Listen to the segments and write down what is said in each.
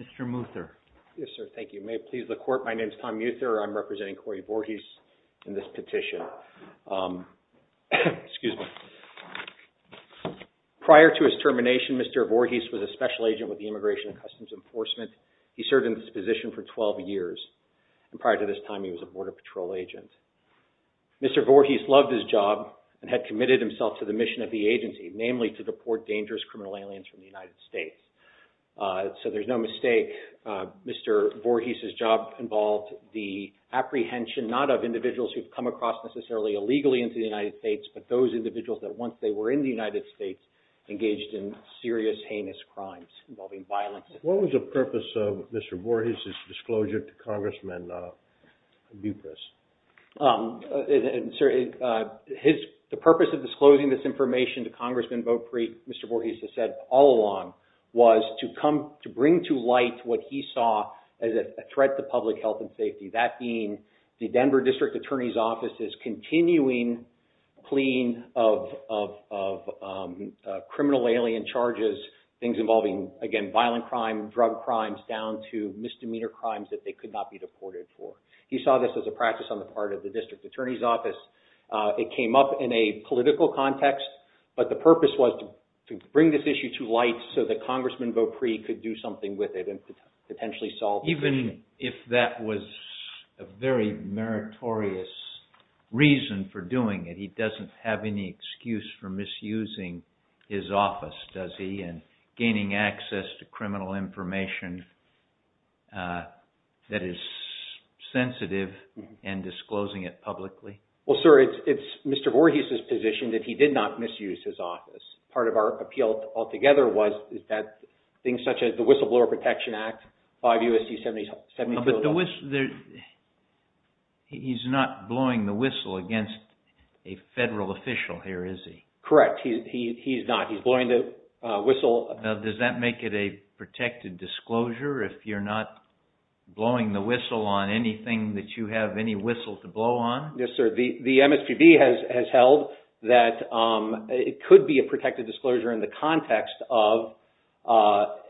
Mr. Muther. Yes, sir. Thank you. May it please the Court, my name is Tom Muther. I'm representing Cory Voorhis in this petition. Prior to his termination, Mr. Voorhis was a special agent with the Immigration and Customs Enforcement. He served in this position for 12 years. Prior to this time, he was a Border Patrol agent. Mr. Voorhis loved his job and had committed himself to the mission of the agency, namely to deport dangerous criminal aliens from the United States. So there's no mistake, Mr. Voorhis' job involved the apprehension, not of individuals who've come across necessarily illegally into the United States, but those individuals that once they were in the United States engaged in serious heinous crimes involving violence. What was the purpose of Mr. Voorhis' disclosure to Congressman Dupras? The purpose of disclosing this information to Congressman Votepreet, Mr. Voorhis has said all along, was to bring to light what he saw as a threat to public health and safety, that being the Denver District Attorney's Office's continuing clean of criminal alien charges, things involving, again, violent crime, drug crimes, down to misdemeanor crimes that they could not be deported for. He saw this as a practice on the part of the District Attorney's Office. It came up in a political context, but the purpose was to bring this issue to light so that Congressman Votepreet could do something with it and could potentially solve the issue. Even if that was a very meritorious reason for doing it, he doesn't have any excuse for misusing his office, does he? And gaining access to criminal information that is sensitive and disclosing it publicly? Well, sir, it's Mr. Voorhis' position that he did not misuse his office. Part of our appeal altogether was things such as the Whistleblower Protection Act, 5 U.S.C. 70... But he's not blowing the whistle against a federal official here, is he? Correct. He's not. He's blowing the whistle... Now, does that make it a protected disclosure if you're not blowing the whistle on anything that you have any whistle to blow on? Yes, sir. The MSPB has held that it could be a protected disclosure in the context of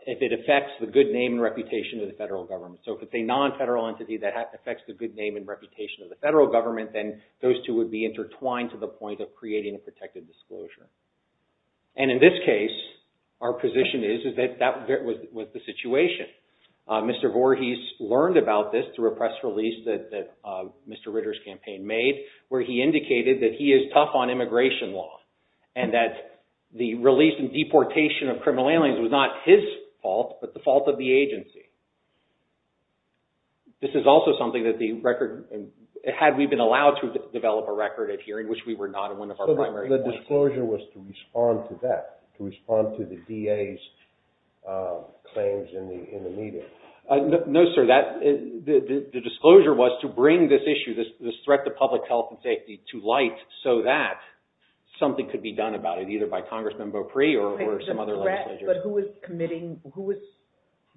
if it affects the good name and reputation of the federal government. So if it's a non-federal entity that affects the good name and reputation of the federal government, then those two would be intertwined to the point of creating a protected disclosure. And in this case, our position is that that was the situation. Mr. Voorhis learned about this through a press release that Mr. Ritter's campaign made where he indicated that he is tough on immigration law, and that the release and deportation of criminal aliens was not his fault, but the fault of the agency. This is also something that the record... Had we been allowed to develop a record at hearing, which we were not in one of our primary... So the disclosure was to respond to that, to respond to the DA's claims in the media. No, sir. The disclosure was to bring this issue, this threat to public health and safety, to light so that something could be done about it, either by Congressman Beaupre or some other legislature. But who was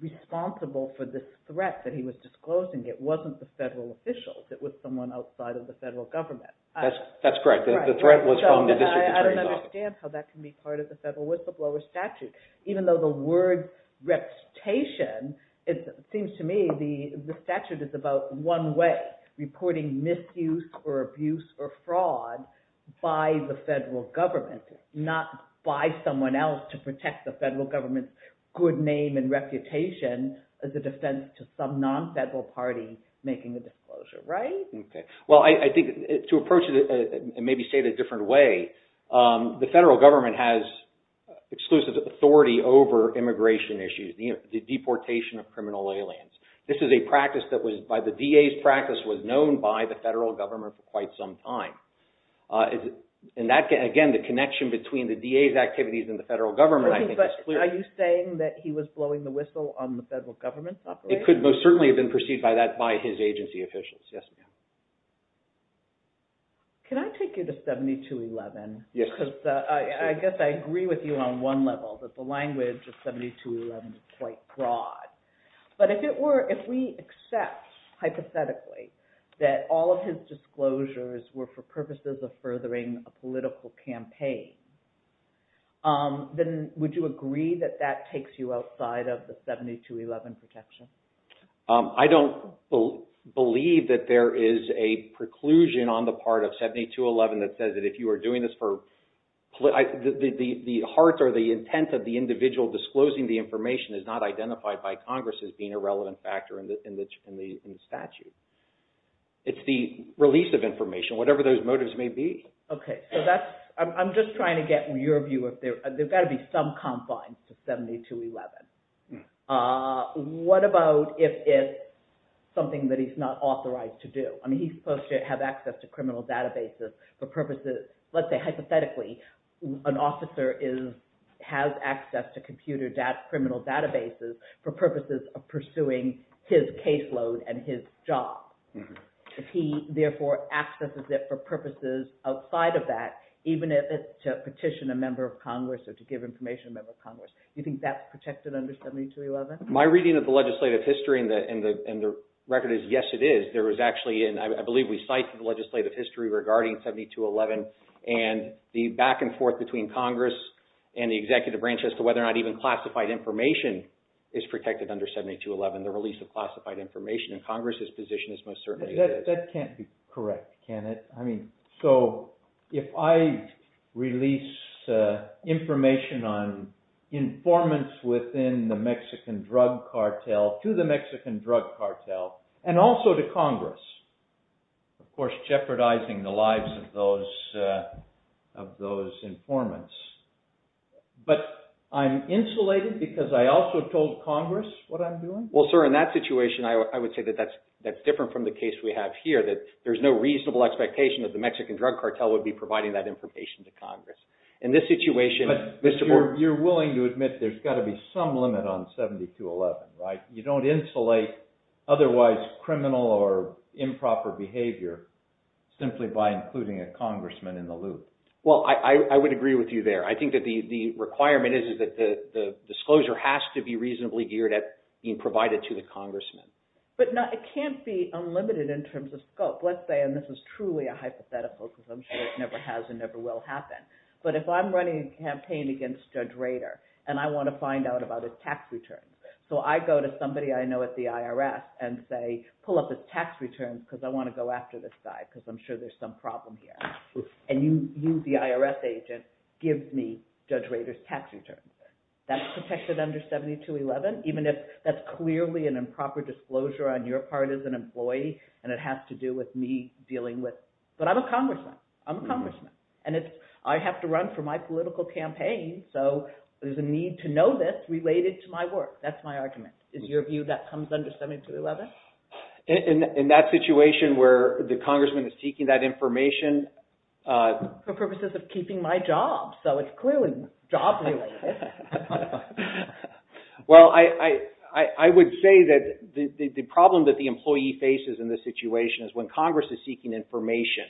responsible for this threat that he was disclosing? It wasn't the federal officials. It was someone outside of the federal government. That's correct. The threat was from the district attorney's office. I don't understand how that can be part of the federal whistleblower statute. Even though the word reputation, it seems to me the statute is about one way, reporting misuse or abuse or fraud by the federal government, not by someone else to protect the federal government's good name and reputation as a defense to some non-federal party making a disclosure, right? Okay. Well, I think to approach it and maybe say it a different way, the federal government has exclusive authority over immigration issues, the deportation of criminal aliens. This is a practice that was, by the DA's practice, was known by the federal government for quite some time. And that, again, the connection between the DA's activities and the federal government, I think, is clear. Are you saying that he was blowing the whistle on the federal government's operation? It could most certainly have been efficient. Yes, ma'am. Can I take you to 7211? Yes. Because I guess I agree with you on one level, that the language of 7211 is quite broad. But if we accept, hypothetically, that all of his disclosures were for purposes of furthering a political campaign, then would you agree that that takes you outside of the 7211 protection? I don't believe that there is a preclusion on the part of 7211 that says that if you are doing this for political... The hearts or the intent of the individual disclosing the information is not identified by Congress as being a relevant factor in the statute. It's the release of information, whatever those motives may be. Okay. So that's... I'm just trying to get your view. There's got to be some confines to 7211. What about if it's something that he's not authorized to do? I mean, he's supposed to have access to criminal databases for purposes... Let's say, hypothetically, an officer has access to computer criminal databases for purposes of pursuing his caseload and his job. If he, therefore, accesses it for purposes outside of that, even if it's to petition a member of Congress or to give information to a member of Congress, do you think that's protected under 7211? My reading of the legislative history and the record is, yes, it is. There was actually, I believe we cite the legislative history regarding 7211 and the back and forth between Congress and the executive branch as to whether or not even classified information is protected under 7211. The release of classified information in Congress's position is most certainly... That can't be correct, can it? I mean, so if I release information on informants within the Mexican drug cartel to the Mexican drug cartel and also to Congress, of course, jeopardizing the lives of those informants, but I'm insulated because I also told Congress what I'm doing? Well, sir, in that situation, I would say that that's different from the case we have here, that there's no reasonable expectation that the Mexican drug cartel would be providing that information to Congress. In this situation... But you're willing to admit there's got to be some limit on 7211, right? You don't insulate otherwise criminal or improper behavior simply by including a congressman in the loop. Well, I would agree with you there. I think that the requirement is that the disclosure has to be reasonably geared at being provided to the Congress. Let's say, and this is truly a hypothetical because I'm sure it never has and never will happen, but if I'm running a campaign against Judge Rader and I want to find out about his tax returns, so I go to somebody I know at the IRS and say, pull up his tax returns because I want to go after this guy because I'm sure there's some problem here. And you, the IRS agent, gives me Judge Rader's tax returns. That's protected under 7211 even if that's clearly an improper disclosure on your part as an employee and it has to do with me dealing with... But I'm a congressman. I'm a congressman. And I have to run for my political campaign, so there's a need to know this related to my work. That's my argument. Is your view that comes under 7211? In that situation where the congressman is seeking that information... For purposes of keeping my job, so it's clearly job related. Well, I would say that the problem that the employee faces in this situation is when Congress is seeking information,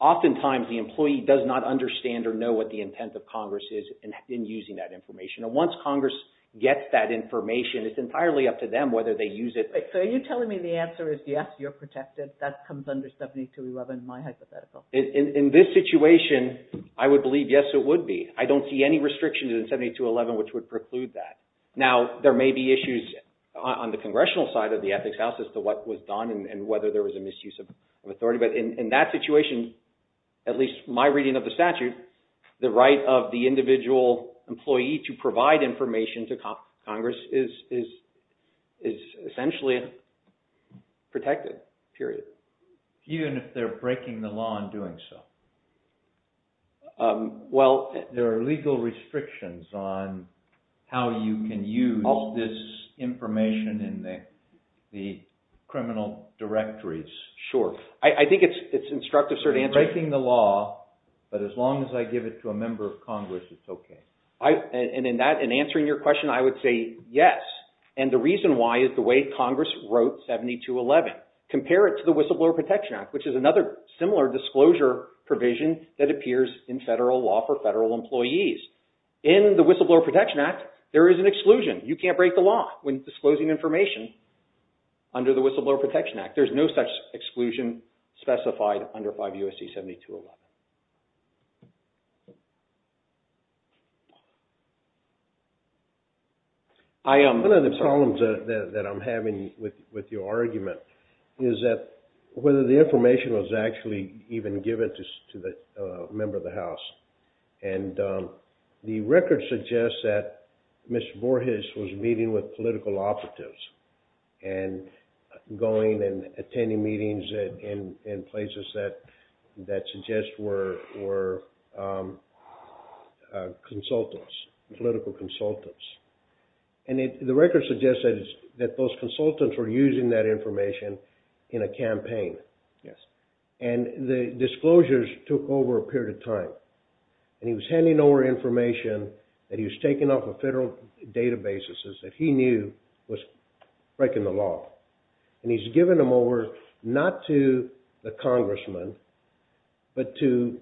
oftentimes the employee does not understand or know what the intent of Congress is in using that information. And once Congress gets that information, it's entirely up to them whether they use it... So are you telling me the answer is yes, you're protected? That comes under 7211, my hypothetical. In this situation, I would believe yes, it would be. I don't see any restrictions in 7211 which would preclude that. Now, there may be issues on the congressional side of the ethics house as to what was done and whether there was a misuse of authority. But in that situation, at least my reading of the statute, the right of the period. Even if they're breaking the law and doing so? There are legal restrictions on how you can use this information in the criminal directories. Sure. I think it's instructive, sir, to answer... You're breaking the law, but as long as I give it to a member of Congress, it's okay. And in that, in answering your question, I would say yes. And the reason why is the way Congress wrote 7211, compare it to the Whistleblower Protection Act, which is another similar disclosure provision that appears in federal law for federal employees. In the Whistleblower Protection Act, there is an exclusion. You can't break the law when disclosing information under the Whistleblower Protection Act. There's no such exclusion specified under 5 U.S.C. 7211. One of the problems that I'm having with your argument is that whether the information was actually even given to the member of the House. And the record suggests that Mr. Borges was meeting with political operatives and going and attending meetings in places that suggest were consultants, political consultants. And the record suggests that those consultants were using that information in a campaign. And the disclosures took over a period of time. And he was handing over information that he was taking off of federal databases that he knew was breaking the law. And he's given them over not to the congressman, but to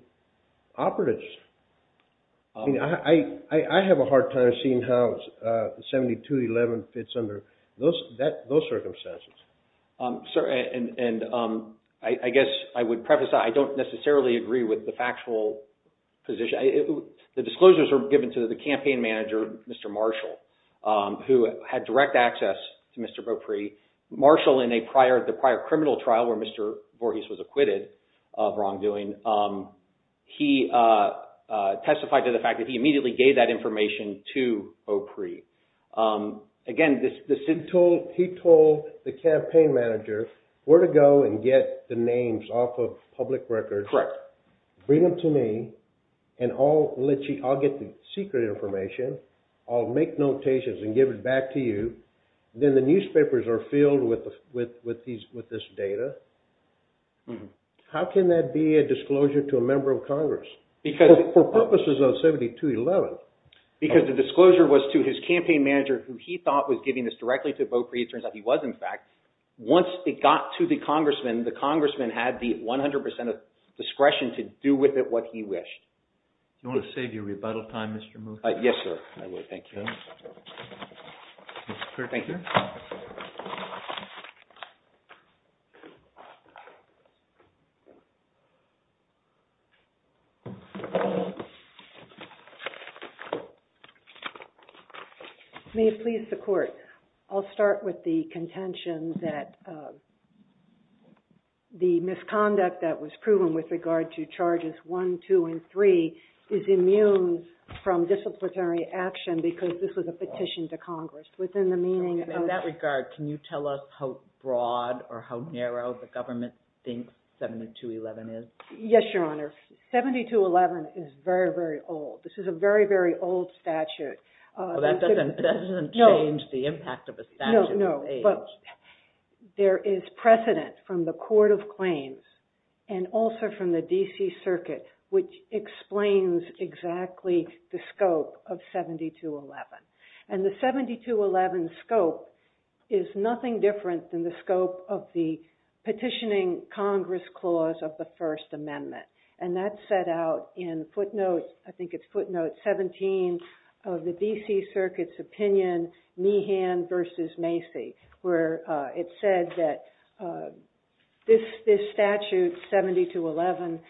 operatives. I have a hard time seeing how 7211 fits under those circumstances. And I guess I would preface, I don't necessarily agree with the factual position. The disclosures are given to the campaign manager, Mr. Marshall, who had direct access to Mr. Beaupre. Marshall, in the prior criminal trial where Mr. Borges was acquitted of wrongdoing, he testified to the fact that he immediately gave that information to Beaupre. Again, he told the campaign manager where to go and get the names off of public records. Correct. Bring them to me and I'll get the secret information. I'll make notations and give it back to you. Then the newspapers are filled with this data. How can that be a disclosure to a member of Congress for purposes of 7211? Because the disclosure was to his campaign manager who he thought was giving this directly to Beaupre. It turns out he was, in fact. Once it got to the congressman, the congressman had the 100 percent of discretion to do with it what he wished. You want to save your rebuttal time, Mr. Moody? Yes, sir. I would. Thank you. May it please the court. I'll start with the contention that the misconduct that was proven with regard to charges one, two, and three is immune from disciplinary action because this was a petition to Congress. In that regard, can you tell us how broad or how narrow the government thinks 7211 is? Yes, your honor. 7211 is very, very old. This is a very, very old statute. That doesn't change the impact of a statute. No, but there is precedent from the Court of Claims and also from the D.C. Circuit, which explains exactly the scope of 7211. And the 7211 scope is nothing different than the scope of the petitioning Congress clause of the First Amendment. And that's set out in footnotes, I think it's footnote 17 of the D.C. Circuit's opinion, Meehan versus Macy, where it said that this statute, 7211,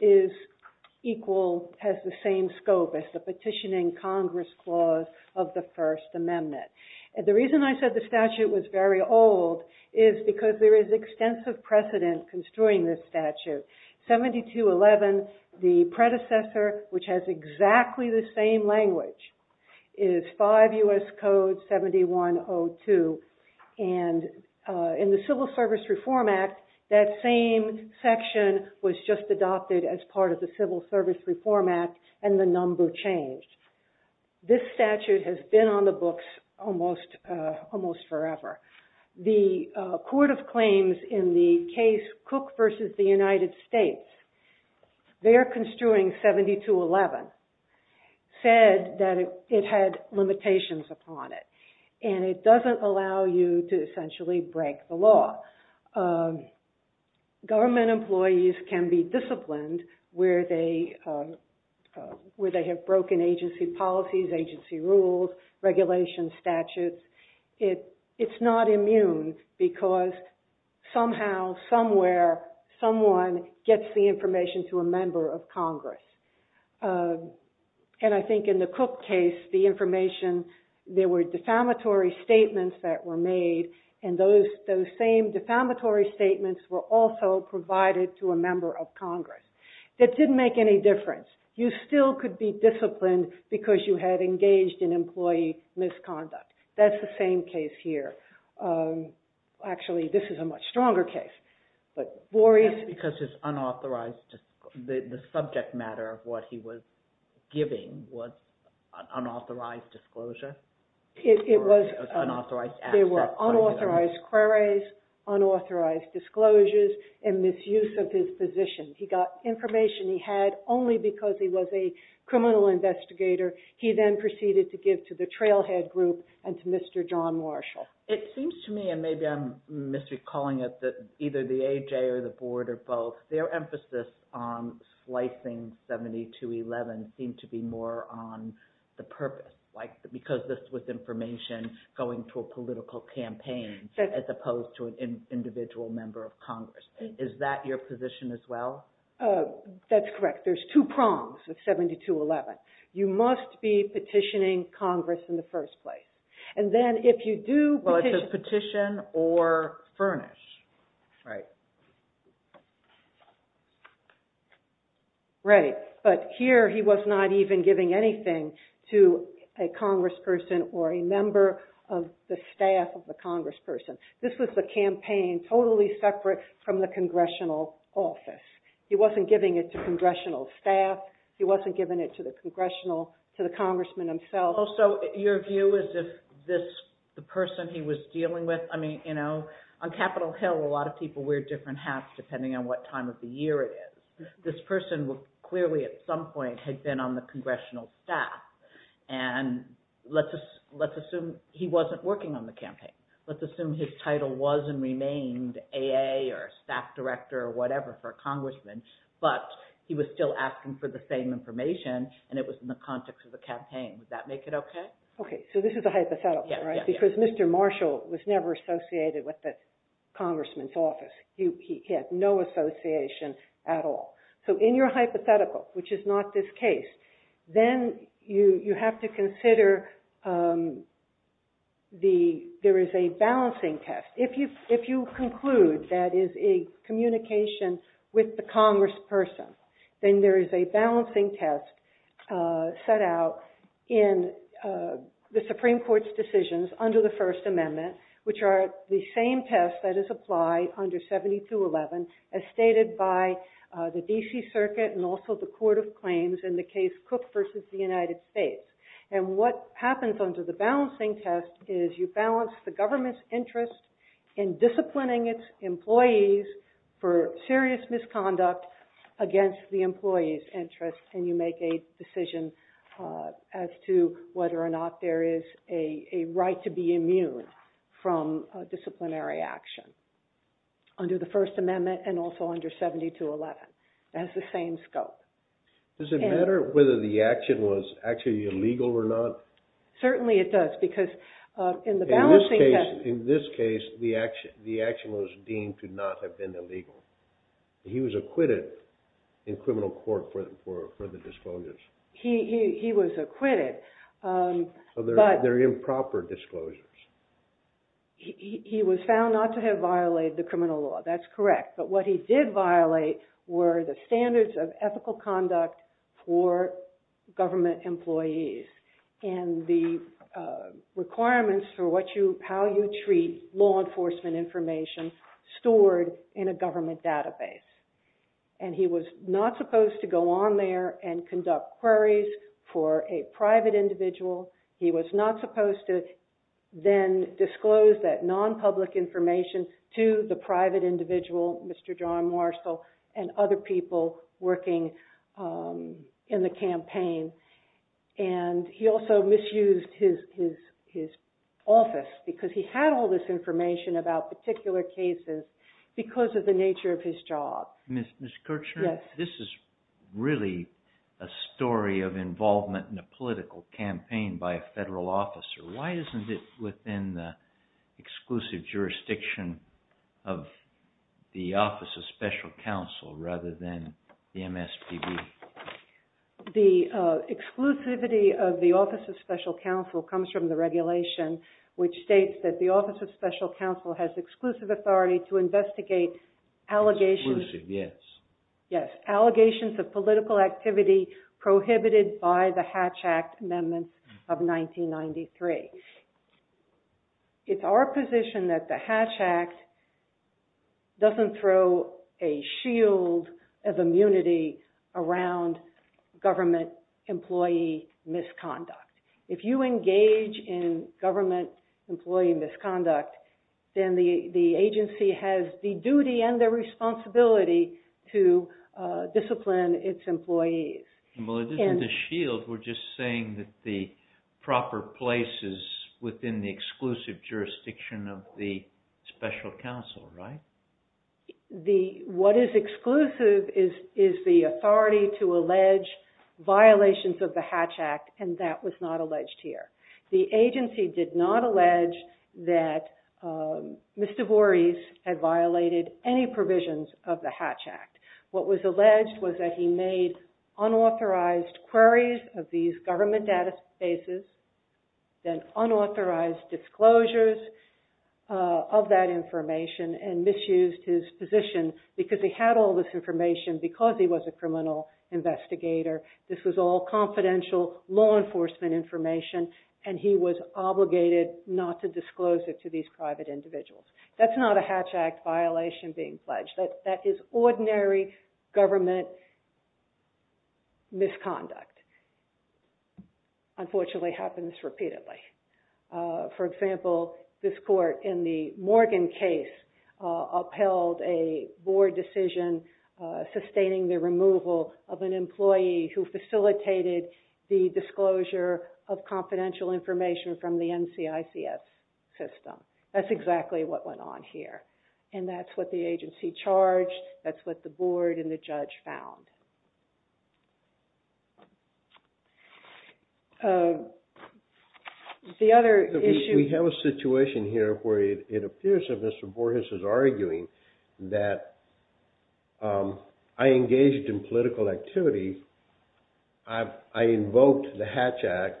is equal, has the same scope as the petitioning Congress clause of the First Amendment. The reason I said the statute was very old is because there is extensive precedent construing this statute. 7211, the predecessor, which has exactly the same language, is 5 U.S. Code 7102. And in the Civil Service Reform Act, that same section was just adopted as part of the Civil Service Reform Act and the number changed. This statute has been on the Cook versus the United States. Their construing, 7211, said that it had limitations upon it. And it doesn't allow you to essentially break the law. Government employees can be disciplined where they have broken agency policies, agency rules, regulations, statutes. It's not immune because somehow, somewhere, someone gets the information to a member of Congress. And I think in the Cook case, the information, there were defamatory statements that were made and those same defamatory statements were also provided to a member of Congress. That didn't make any difference. You still could be disciplined because you had engaged in employee misconduct. That's the same case here. Actually, this is a much stronger case. Just because it's unauthorized, the subject matter of what he was giving was unauthorized disclosure? It was unauthorized access. There were unauthorized queries, unauthorized disclosures, and misuse of his position. He got information he had only because he was a criminal investigator. He then proceeded to give to the Trailhead Group and to Mr. John Marshall. It seems to me, and maybe I'm misrecalling it, that either the AJ or the board or both, their emphasis on slicing 7211 seemed to be more on the purpose, because this was information going to a political campaign as opposed to an individual member of Congress. Is that your position as well? That's correct. There's two prongs with 7211. You must be petitioning Congress in the first place. And then if you do... Well, it says petition or furnish, right? Right. But here, he was not even giving anything to a congressperson or a member of the staff of the congressional office. He wasn't giving it to congressional staff. He wasn't giving it to the congressman himself. Also, your view is if the person he was dealing with... On Capitol Hill, a lot of people wear different hats depending on what time of the year it is. This person clearly at some point had been on the congressional staff. And let's assume he wasn't working on the campaign. Let's assume his title was and remained AA or staff director or whatever for a congressman, but he was still asking for the same information, and it was in the context of the campaign. Would that make it okay? Okay. So this is a hypothetical, right? Because Mr. Marshall was never associated with the congressman's office. He had no association at all. So in your hypothetical, which is not this case, then you have to consider there is a balancing test. If you conclude that is a communication with the congressperson, then there is a balancing test set out in the Supreme Court's decisions under the First Amendment, which are the same tests that is applied under Section 70-11 as stated by the D.C. Circuit and also the Court of Claims in the case Cook v. the United States. And what happens under the balancing test is you balance the government's interest in disciplining its employees for serious misconduct against the employee's interest, and you make a decision as to whether or not there is a right to be immune from disciplinary action. Under the First Amendment and also under 70-11, it has the same scope. Does it matter whether the action was actually illegal or not? Certainly it does, because in the balancing test... In this case, the action was deemed to not have been illegal. He was acquitted in criminal court for the disclosures. He was acquitted, but... They're improper disclosures. He was found not to have violated the criminal law. That's correct. But what he did violate were the standards of ethical conduct for government employees and the requirements for how you treat law enforcement information stored in a government database. And he was not supposed to go on there and conduct queries for a private individual. He was not supposed to then disclose that non-public information to the private individual, Mr. John Marshall, and other people working in the campaign. And he also misused his office because he had all this information about particular cases because of the nature of his job. Ms. Kirchner, this is really a story of involvement in a political campaign by a federal officer. Why isn't it within the exclusive jurisdiction of the Office of Special Counsel rather than the MSPB? The exclusivity of the Office of Special Counsel comes from the regulation, which states that the Office of Special Counsel has exclusive authority to investigate allegations... Exclusive, yes. Yes, allegations of political activity prohibited by the Hatch Act Amendment of 1993. It's our position that the Hatch Act doesn't throw a shield of immunity around government employee misconduct. If you engage in government employee misconduct, then the agency has the duty and the responsibility to discipline its employees. Well, it isn't a shield. We're just saying that the proper place is within the exclusive jurisdiction of the Special Counsel, right? What is exclusive is the authority to allege violations of the Hatch Act, and that was not that Mr. Voorhees had violated any provisions of the Hatch Act. What was alleged was that he made unauthorized queries of these government databases, then unauthorized disclosures of that information and misused his position because he had all this information because he was a criminal investigator. This was all confidential law enforcement information, and he was obligated not to disclose it to these private individuals. That's not a Hatch Act violation being pledged. That is ordinary government misconduct. Unfortunately, it happens repeatedly. For example, this court in the Morgan case upheld a board decision sustaining the removal of an employee who facilitated the disclosure of confidential information from the NCICS system. That's exactly what went on here, and that's what the agency charged. That's what the board and the judge found. The other issue... We have a situation here where it appears that Mr. Voorhees is arguing that I engaged in political activity. I invoked the Hatch Act,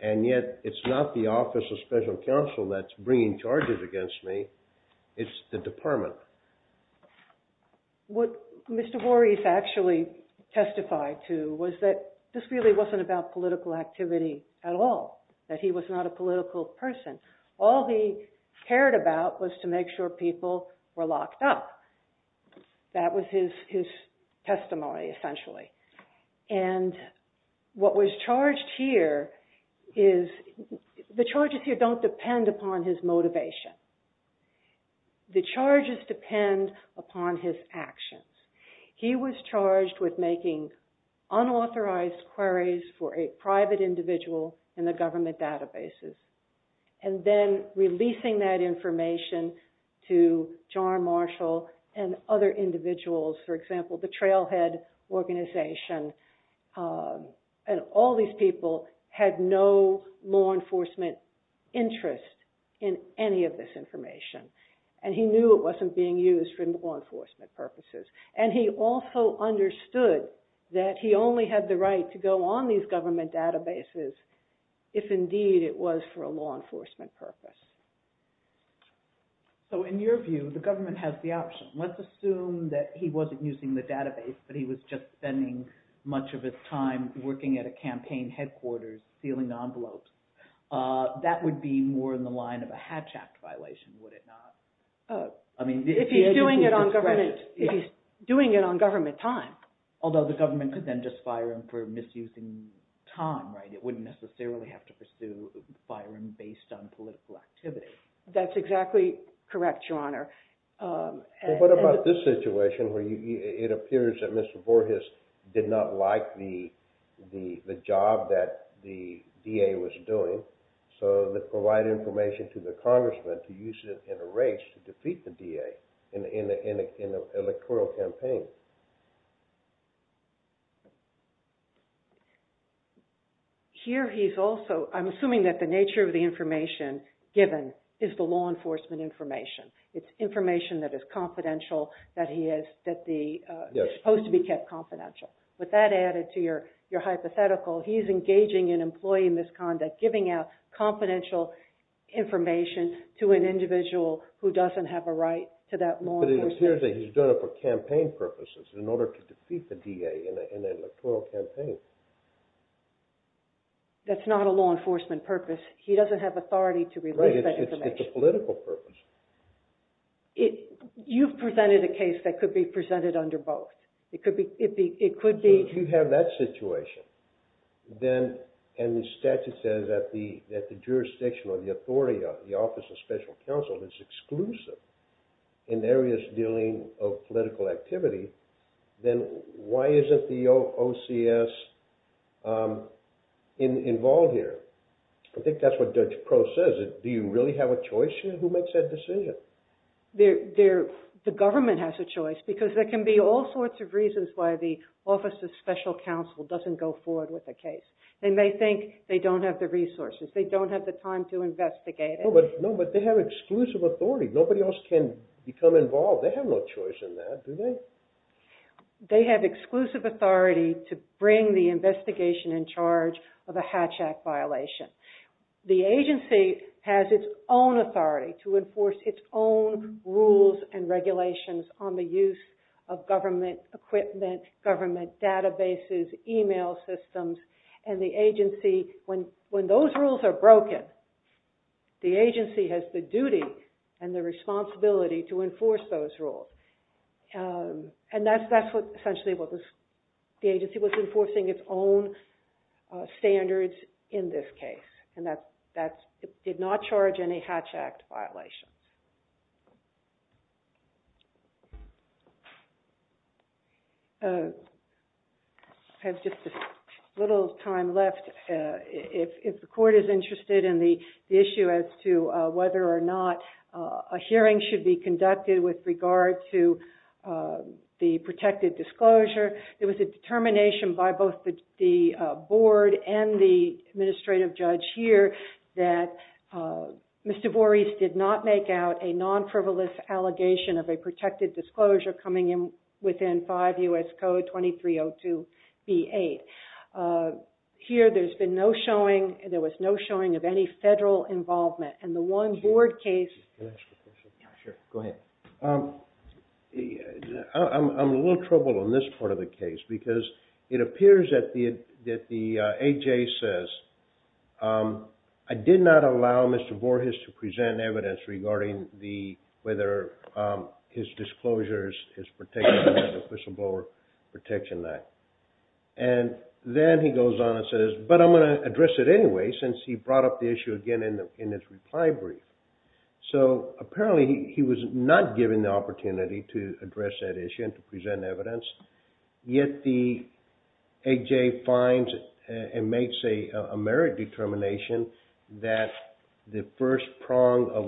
and yet it's not the Office of Special Counsel that's bringing charges against me. It's the department. What Mr. Voorhees actually testified to was that this really wasn't about political activity at all, that he was not a political person. All he cared about was to make sure people were locked up. That was his testimony, essentially. The charges here don't depend upon his motivation. The charges depend upon his actions. He was charged with making unauthorized queries for a private individual in the government databases, and then releasing that information to John Marshall and other individuals, for example, the Trailhead Organization. All these people had no law enforcement interest in any of this information, and he knew it wasn't being used for law enforcement purposes. He also understood that he only had the right to go on these government databases if indeed it was for a law enforcement purpose. In your view, the government has the option. Let's assume that he wasn't using the database, but he was just spending much of his time working at a campaign headquarters, sealing envelopes. That would be more in the line of a Hatch Act violation, would it not? If he's doing it on government time. Although the government could then just fire him for misusing time, right? It wouldn't necessarily have to pursue firing based on political activity. That's exactly correct, Your Honor. What about this situation where it appears that Mr. Borges did not like the job that the DA was doing, so they provide information to the congressman to use it in a race to defeat the DA in an electoral campaign? Here he's also, I'm assuming that the nature of the information given is the law enforcement information. It's information that is confidential, that is supposed to be kept confidential. With that added to your hypothetical, he's engaging in employee misconduct, giving out confidential information to an individual who doesn't have a right to that law enforcement... But it appears that he's doing it for campaign purposes, in order to defeat the DA in an electoral campaign. That's not a law enforcement purpose. He doesn't have authority to release that information. Right, it's a political purpose. You've presented a case that could be presented under both. It could be... If you have that situation, then, and the statute says that the jurisdiction or the authority of the Office of Special Counsel is exclusive in areas dealing of political activity, then why isn't the OCS involved here? I think that's what Judge Pro says. Do you really have a choice here? Who makes that decision? The government has a choice, because there can be all sorts of reasons why the Office of Special Counsel doesn't go forward with a case. They may think they don't have the resources. They don't have the time to investigate it. No, but they have exclusive authority. Nobody else can become involved. They have no choice in that, do they? They have exclusive authority to bring the investigation in charge of a Hatch Act violation. The agency has its own authority to enforce its own rules and regulations on the use of government equipment, government databases, email systems, and the agency, when those rules are broken, the agency has the duty and the responsibility to enforce those rules. And that's essentially what the agency was enforcing, its own standards in this case, and that did not charge any Hatch Act violations. I have just a little time left. If the Court is interested in the issue as to whether or not a hearing should be conducted with regard to the protected disclosure, there was a determination by both the board and the administrative judge here that Mr. Voorhees did not make out a 2302B8. Here there's been no showing, there was no showing of any federal involvement, and the one board case... Can I ask a question? Yeah, sure. Go ahead. I'm a little troubled on this part of the case because it appears that the A.J. says, I did not allow Mr. Voorhees to present evidence regarding whether his disclosures is protected under the Official Blower Protection Act. And then he goes on and says, but I'm going to address it anyway, since he brought up the issue again in his reply brief. So apparently he was not given the opportunity to address that issue and to present evidence, yet the A.J. finds and makes a merit determination that the first prong of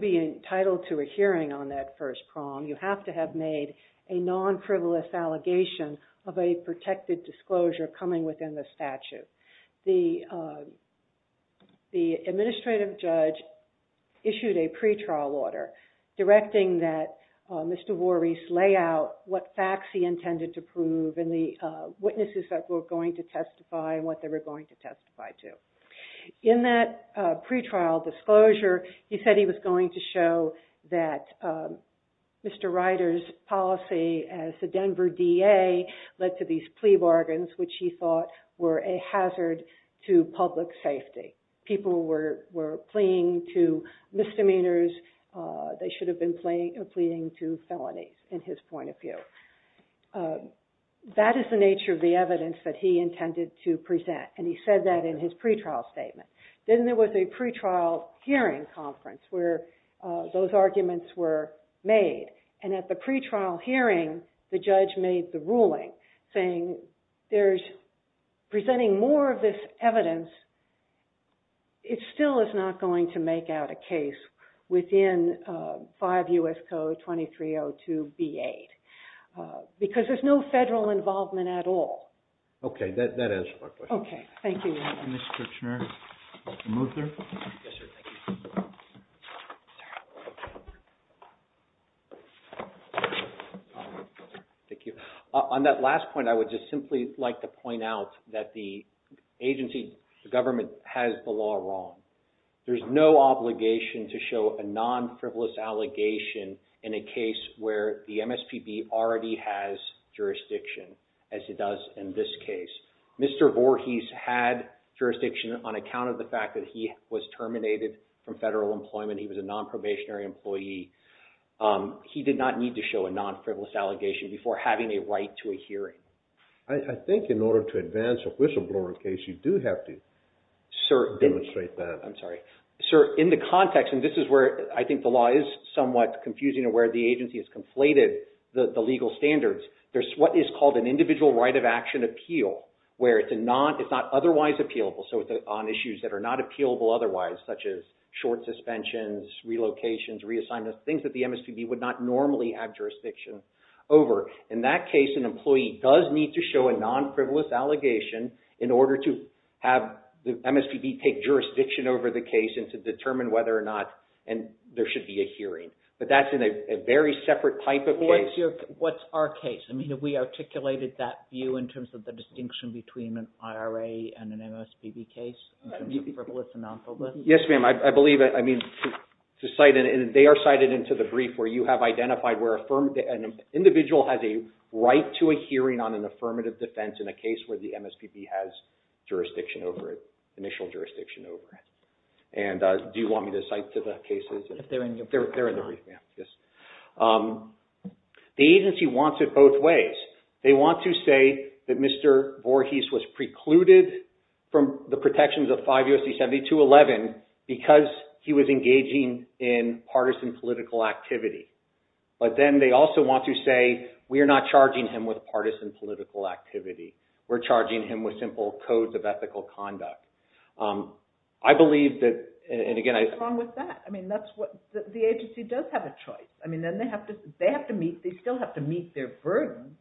being entitled to a hearing on that first prong, you have to have made a non-frivolous allegation of a protected disclosure coming within the statute. The administrative judge issued a pretrial order directing that Mr. Voorhees lay out what facts he intended to prove and the witnesses that were going to testify and what they were going to testify to. In that pretrial disclosure, he said he was going to show that Mr. Ryder's policy as the Denver DA led to these plea bargains, which he thought were a hazard to public safety. People were pleading to misdemeanors. They should have been pleading to felonies in his point of view. So that is the nature of the evidence that he intended to present, and he said that in his pretrial statement. Then there was a pretrial hearing conference where those arguments were made, and at the pretrial hearing, the judge made the ruling saying, presenting more of this because there's no federal involvement at all. On that last point, I would just simply like to point out that the agency, the government, has the law wrong. There's no obligation to show a non-frivolous allegation in a case where the MSPB already has jurisdiction as it does in this case. Mr. Voorhees had jurisdiction on account of the fact that he was terminated from federal employment. He was a non-probationary employee. He did not need to show a non-frivolous allegation before having a right to a hearing. I think in order to advance a whistleblower case, you do have to demonstrate the... I'm sorry. Sir, in the context, and this is where I think the law is somewhat confusing and where the agency has conflated the legal standards, there's what is called an individual right of action appeal where it's not otherwise appealable. So it's on issues that are not appealable otherwise, such as short suspensions, relocations, reassignments, things that the MSPB would not normally have jurisdiction over. In that case, an employee does need to show a the case and to determine whether or not there should be a hearing. But that's in a very separate type of case. What's our case? I mean, have we articulated that view in terms of the distinction between an IRA and an MSPB case in terms of frivolous and non-frivolous? Yes, ma'am. I believe... I mean, they are cited into the brief where you have identified where an individual has a right to a hearing on an affirmative defense in a case where the MSPB has jurisdiction over it, and do you want me to cite to the cases? They're in the brief, ma'am. Yes. The agency wants it both ways. They want to say that Mr. Voorhees was precluded from the protections of 5 U.S.C. 70211 because he was engaging in partisan political activity. But then they also want to say, we are not charging him with partisan political activity. We're leaving... And again, I... What's wrong with that? I mean, that's what... The agency does have a choice. I mean, then they have to meet... They still have to meet their burden,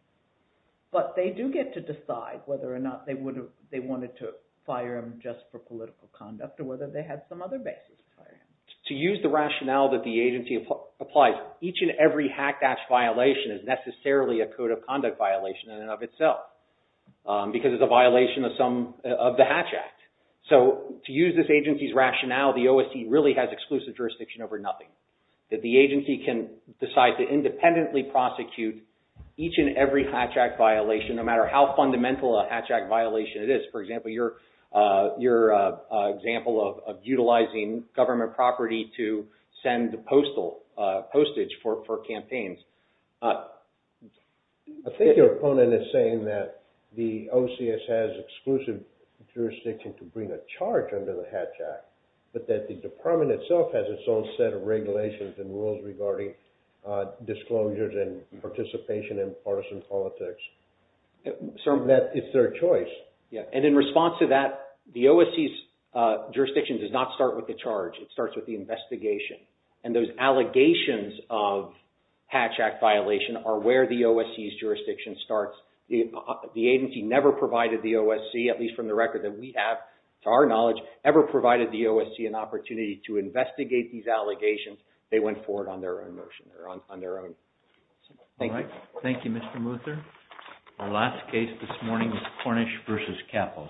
but they do get to decide whether or not they wanted to fire him just for political conduct or whether they had some other basis to fire him. To use the rationale that the agency applies, each and every Hatch Act violation is necessarily a code of conduct violation in and of itself because it's a violation of some... Of the Hatch Act. So to use this agency's rationale, the OST really has exclusive jurisdiction over nothing, that the agency can decide to independently prosecute each and every Hatch Act violation, no matter how fundamental a Hatch Act violation it is. For example, your example of utilizing government property to send postal postage for campaigns. I think your opponent is saying that the OCS has exclusive jurisdiction to bring a charge under the Hatch Act, but that the department itself has its own set of regulations and rules regarding disclosures and participation in partisan politics. That it's their choice. Yeah. And in response to that, the OSC's jurisdiction does not start with the charge. It starts with the investigation. And those allegations of Hatch Act violation are where the OSC's jurisdiction starts. The agency never provided the OSC, at least from the record that we have to our knowledge, ever provided the OSC an opportunity to investigate these allegations. They went forward on their own motion or on their own. Thank you, Mr. Muther. Our last case this morning is Cornish v. Capo.